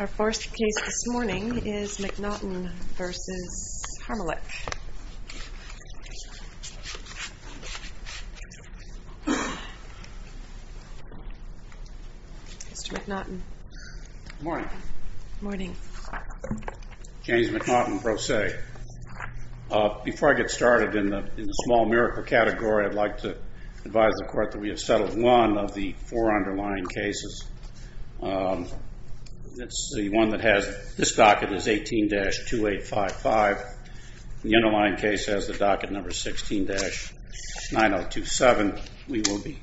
Our first case this morning is Mac Naughton v. Harmelech. Mr. Mac Naughton. Morning. Morning. James Mac Naughton, Pro Se. Before I get started in the small miracle category, I'd like to advise the court that we have settled one of the four underlying cases. It's the one that has, this docket is 18-2855. The underlying case has the docket number 16-9027. We will be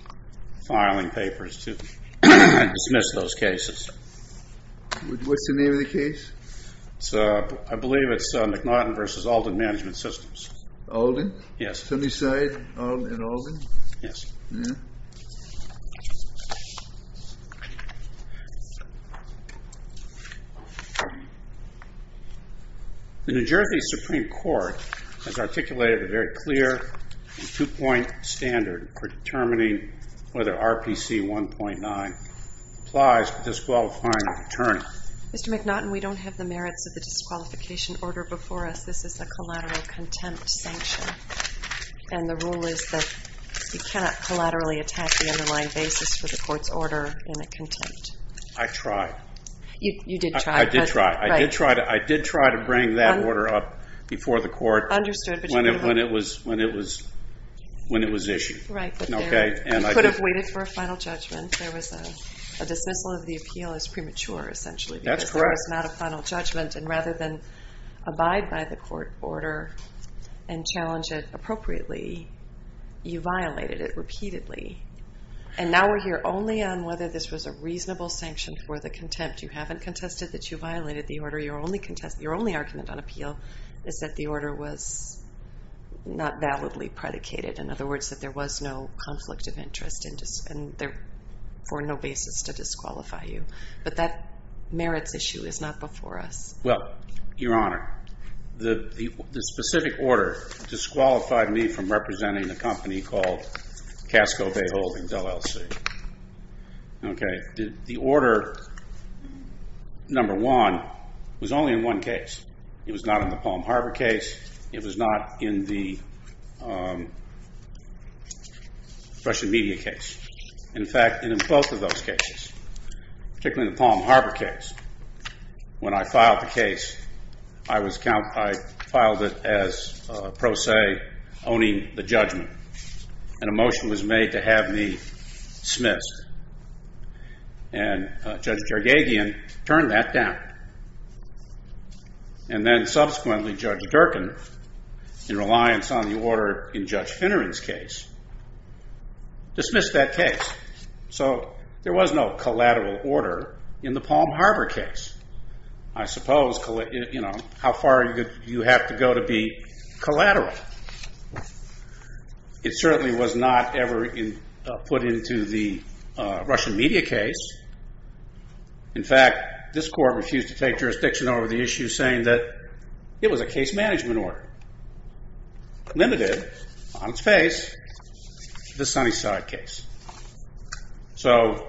filing papers to dismiss those cases. What's the name of the case? I believe it's Mac Naughton v. Alden Management Systems. Alden? Yes. Did somebody say Alden v. Alden? Yes. The New Jersey Supreme Court has articulated a very clear two-point standard for determining whether RPC 1.9 applies to disqualifying an attorney. Mr. Mac Naughton, we don't have the merits of the disqualification order before us. This is a collateral contempt sanction. And the rule is that you cannot collaterally attack the underlying basis for the court's order in a contempt. I tried. You did try. I did try. I did try to bring that order up before the court when it was issued. Right. You could have waited for a final judgment. There was a dismissal of the appeal as premature, essentially. That's correct. There was not a final judgment. And rather than abide by the court order and challenge it appropriately, you violated it repeatedly. And now we're here only on whether this was a reasonable sanction for the contempt. You haven't contested that you violated the order. Your only argument on appeal is that the order was not validly predicated. In other words, that there was no conflict of interest and for no basis to disqualify you. But that merits issue is not before us. Well, Your Honor, the specific order disqualified me from representing a company called Casco Bayholding LLC. Okay. The order, number one, was only in one case. It was not in the Palm Harbor case. It was not in the Russian media case. In fact, it was in both of those cases, particularly the Palm Harbor case. When I filed the case, I filed it as pro se, owning the judgment. And a motion was made to have me dismissed. And Judge Jargagian turned that down. And then subsequently, Judge Durkin, in reliance on the order in Judge Finneran's case, dismissed that case. So there was no collateral order in the Palm Harbor case. I suppose, you know, how far do you have to go to be collateral? It certainly was not ever put into the Russian media case. In fact, this court refused to take jurisdiction over the issue, saying that it was a case management order. Limited, on its face, the Sunnyside case. So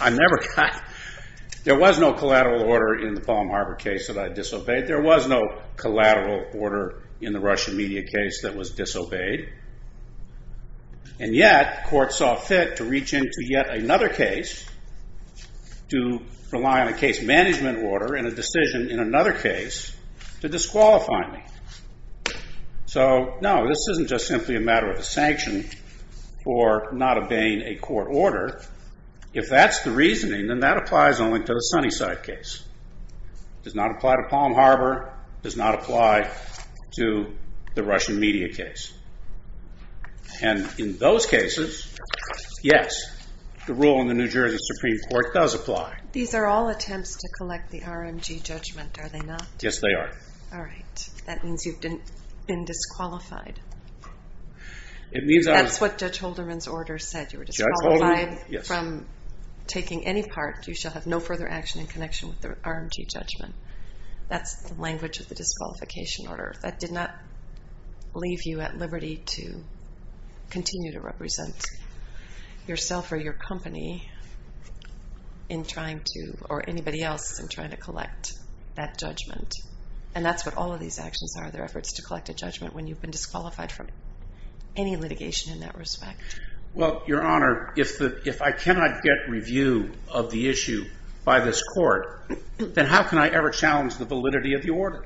I never got – there was no collateral order in the Palm Harbor case that I disobeyed. There was no collateral order in the Russian media case that was disobeyed. And yet, the court saw fit to reach into yet another case to rely on a case management order and a decision in another case to disqualify me. So, no, this isn't just simply a matter of a sanction for not obeying a court order. If that's the reasoning, then that applies only to the Sunnyside case. It does not apply to Palm Harbor. It does not apply to the Russian media case. And in those cases, yes, the rule in the New Jersey Supreme Court does apply. These are all attempts to collect the RMG judgment, are they not? Yes, they are. All right. That means you've been disqualified. That's what Judge Holderman's order said. From taking any part, you shall have no further action in connection with the RMG judgment. That's the language of the disqualification order. That did not leave you at liberty to continue to represent yourself or your company in trying to – or anybody else in trying to collect that judgment. And that's what all of these actions are. They're efforts to collect a judgment when you've been disqualified from any litigation in that respect. Well, Your Honor, if I cannot get review of the issue by this court, then how can I ever challenge the validity of the order?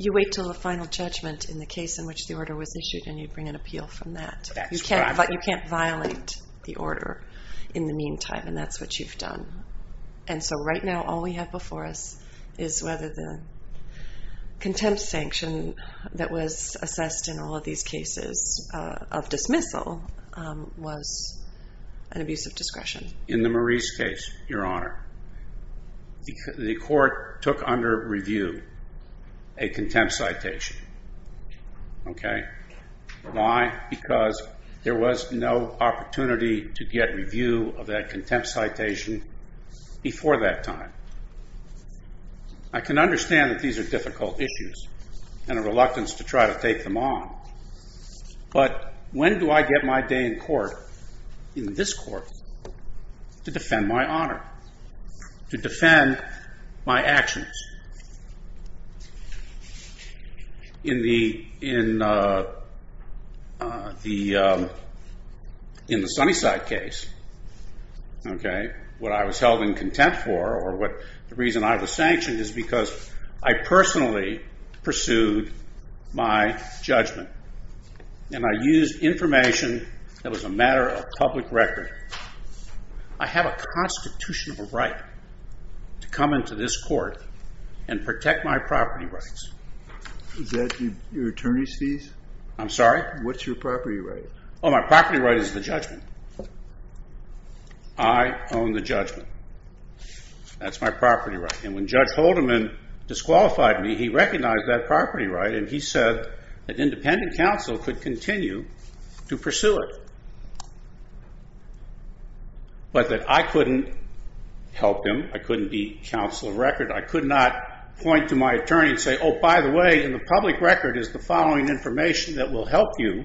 You wait until the final judgment in the case in which the order was issued, and you bring an appeal from that. You can't violate the order in the meantime, and that's what you've done. And so right now, all we have before us is whether the contempt sanction that was assessed in all of these cases of dismissal was an abuse of discretion. In the Maurice case, Your Honor, the court took under review a contempt citation. Okay? Why? Because there was no opportunity to get review of that contempt citation before that time. I can understand that these are difficult issues and a reluctance to try to take them on, but when do I get my day in court, in this court, to defend my honor, to defend my actions? In the Sunnyside case, okay, what I was held in contempt for, or the reason I was sanctioned, is because I personally pursued my judgment, and I used information that was a matter of public record. I have a constitutional right to come into this court and protect my property rights. Is that your attorney's fees? I'm sorry? What's your property right? Oh, my property right is the judgment. I own the judgment. That's my property right. And when Judge Haldeman disqualified me, he recognized that property right, and he said that independent counsel could continue to pursue it, but that I couldn't help him. I couldn't be counsel of record. I could not point to my attorney and say, oh, by the way, in the public record is the following information that will help you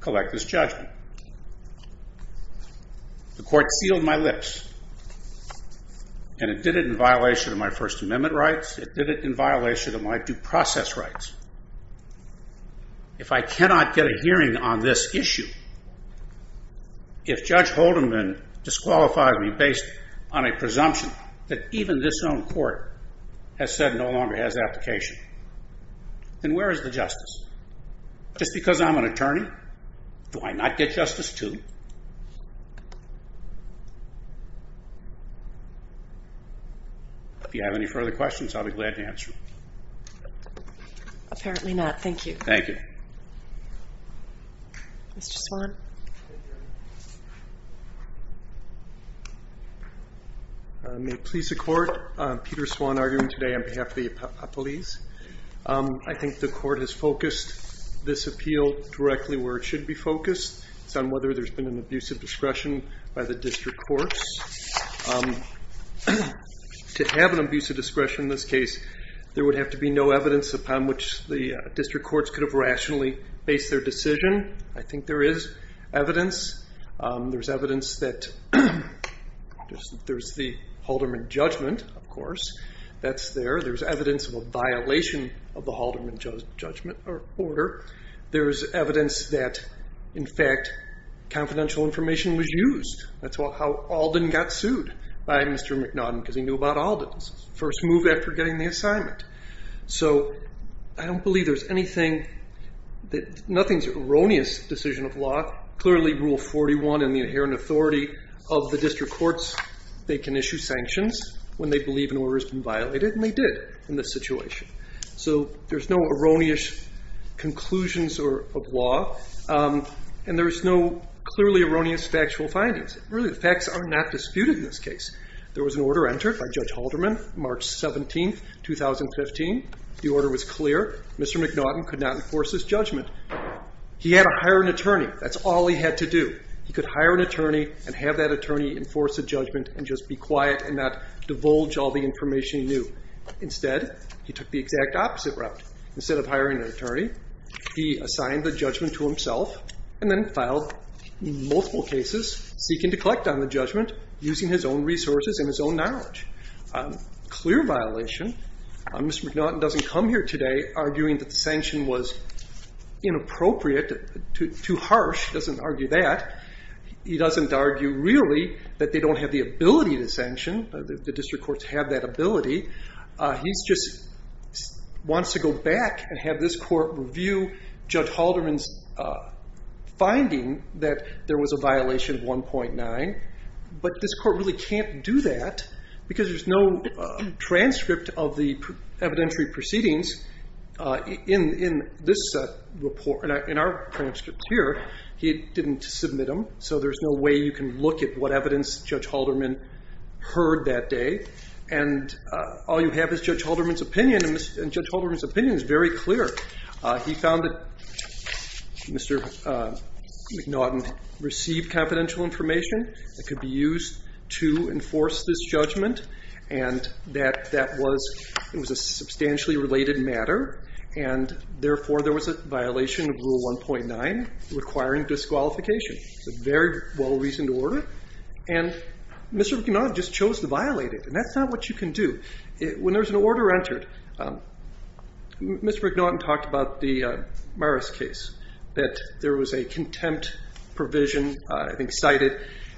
collect this judgment. The court sealed my lips, and it did it in violation of my First Amendment rights. It did it in violation of my due process rights. If I cannot get a hearing on this issue, if Judge Haldeman disqualifies me based on a presumption that even this own court has said no longer has application, then where is the justice? Just because I'm an attorney, do I not get justice too? If you have any further questions, I'll be glad to answer them. Apparently not. Thank you. Thank you. Mr. Swan? May it please the Court, I'm Peter Swan arguing today on behalf of the Appellees. I think the Court has focused this appeal directly where it should be focused. It's on whether there's been an abuse of discretion by the district courts. To have an abuse of discretion in this case, there would have to be no evidence upon which the district courts could have rationally based their decision. I think there is evidence. There's evidence that there's the Haldeman judgment, of course. That's there. There's evidence of a violation of the Haldeman judgment or order. There's evidence that, in fact, confidential information was used. That's how Alden got sued by Mr. McNaughton because he knew about Alden's first move after getting the assignment. So I don't believe there's anything. Nothing's an erroneous decision of law. Clearly Rule 41 and the inherent authority of the district courts, they can issue sanctions when they believe an order's been violated, and they did in this situation. So there's no erroneous conclusions of law, and there's no clearly erroneous factual findings. Really, the facts are not disputed in this case. There was an order entered by Judge Haldeman, March 17, 2015. The order was clear. Mr. McNaughton could not enforce his judgment. He had to hire an attorney. That's all he had to do. He could hire an attorney and have that attorney enforce a judgment and just be quiet and not divulge all the information he knew. Instead, he took the exact opposite route. Instead of hiring an attorney, he assigned the judgment to himself and then filed multiple cases seeking to collect on the judgment using his own resources and his own knowledge. Clear violation. Mr. McNaughton doesn't come here today arguing that the sanction was inappropriate, too harsh, he doesn't argue that. He doesn't argue really that they don't have the ability to sanction. The district courts have that ability. He just wants to go back and have this court review Judge Haldeman's finding that there was a violation of 1.9, but this court really can't do that because there's no transcript of the evidentiary proceedings in this report. In our transcript here, he didn't submit them, so there's no way you can look at what evidence Judge Haldeman heard that day, and all you have is Judge Haldeman's opinion, and Judge Haldeman's opinion is very clear. He found that Mr. McNaughton received confidential information that could be used to enforce this judgment, and that that was a substantially related matter, and therefore there was a violation of Rule 1.9 requiring disqualification. It's a very well-reasoned order, and Mr. McNaughton just chose to violate it, and that's not what you can do. When there's an order entered, Mr. McNaughton talked about the Maris case, that there was a contempt provision cited,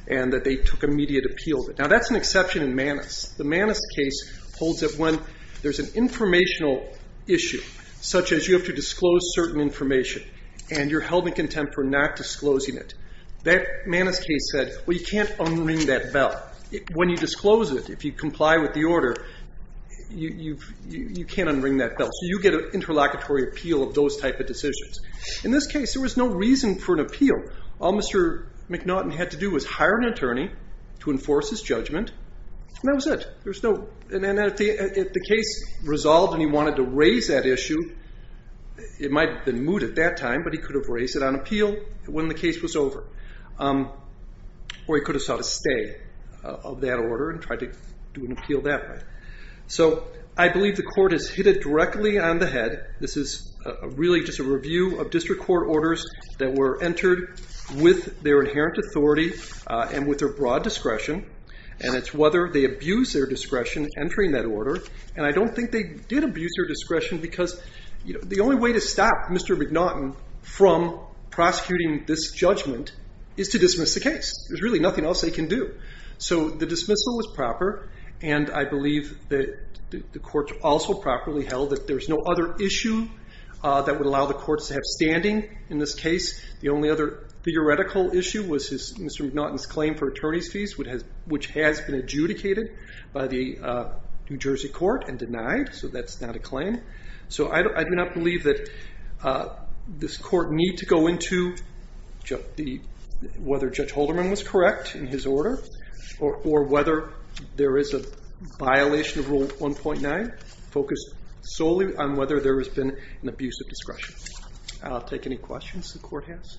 and that they took immediate appeal. Now, that's an exception in Manus. The Manus case holds that when there's an informational issue, such as you have to disclose certain information, and you're held in contempt for not disclosing it, that Manus case said, well, you can't unring that bell. When you disclose it, if you comply with the order, you can't unring that bell, so you get an interlocutory appeal of those type of decisions. In this case, there was no reason for an appeal. All Mr. McNaughton had to do was hire an attorney to enforce his judgment, and that was it. If the case resolved and he wanted to raise that issue, it might have been moot at that time, but he could have raised it on appeal when the case was over, or he could have sought a stay of that order and tried to do an appeal that way. So I believe the court has hit it directly on the head. This is really just a review of district court orders that were entered with their inherent authority and with their broad discretion, and it's whether they abused their discretion entering that order, and I don't think they did abuse their discretion because the only way to stop Mr. McNaughton from prosecuting this judgment is to dismiss the case. There's really nothing else they can do. So the dismissal was proper, and I believe that the court also properly held that there's no other issue that would allow the courts to have standing in this case. The only other theoretical issue was Mr. McNaughton's claim for attorney's fees, which has been adjudicated by the New Jersey court and denied, so that's not a claim. So I do not believe that this court need to go into whether Judge Holderman was correct in his order or whether there is a violation of Rule 1.9 focused solely on whether there has been an abuse of discretion. I'll take any questions the court has.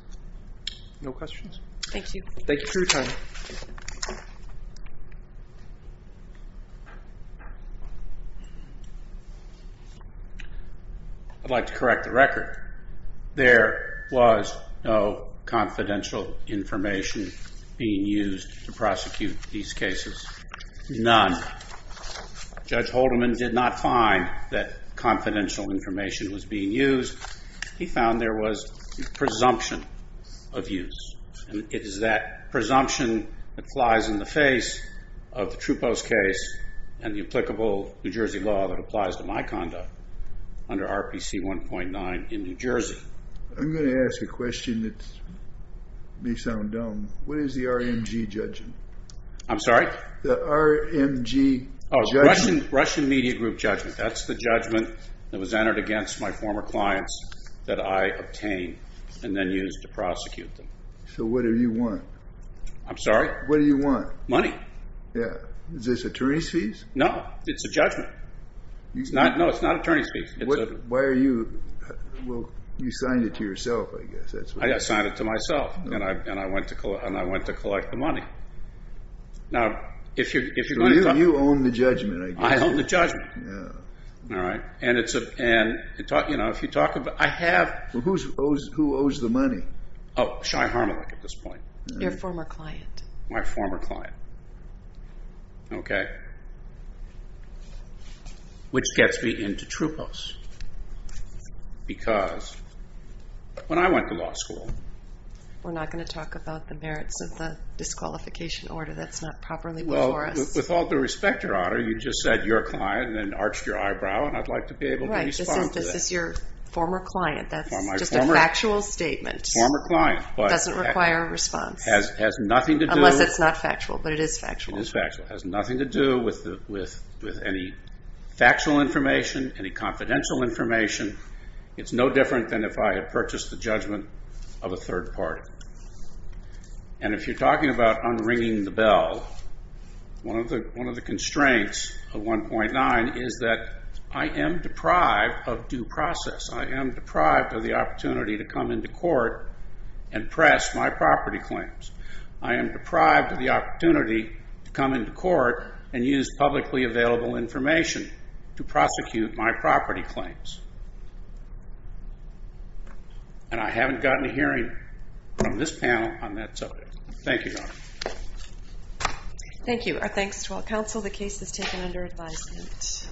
No questions? Thank you. Thank you for your time. I'd like to correct the record. There was no confidential information being used to prosecute these cases. None. Judge Holderman did not find that confidential information was being used. He found there was presumption of use. It is that presumption that flies in the face of the Trupo's case and the applicable New Jersey law that applies to my conduct under RPC 1.9 in New Jersey. I'm going to ask a question that may sound dumb. What is the RMG judging? I'm sorry? The RMG judgment? Russian Media Group judgment. That's the judgment that was entered against my former clients that I obtained and then used to prosecute them. So what do you want? I'm sorry? What do you want? Money. Is this attorney's fees? No, it's a judgment. No, it's not attorney's fees. Why are you? You signed it to yourself, I guess. I signed it to myself, and I went to collect the money. You own the judgment, I guess. I own the judgment. Who owes the money? Oh, Shai Harmalik at this point. Your former client. My former client. Which gets me into Trupo's. Because when I went to law school. We're not going to talk about the merits of the disqualification order. That's not properly before us. With all due respect, Your Honor, you just said your client and then arched your eyebrow, and I'd like to be able to respond to that. This is your former client. That's just a factual statement. Former client. It doesn't require a response. Unless it's not factual, but it is factual. It is factual. It has nothing to do with any factual information, any confidential information. It's no different than if I had purchased the judgment of a third party. And if you're talking about unringing the bell, one of the constraints of 1.9 is that I am deprived of due process. I am deprived of the opportunity to come into court and press my property claims. I am deprived of the opportunity to come into court and use publicly available information to prosecute my property claims. And I haven't gotten a hearing from this panel on that subject. Thank you, Your Honor. Thank you. Our thanks to all counsel. The case is taken under advisement.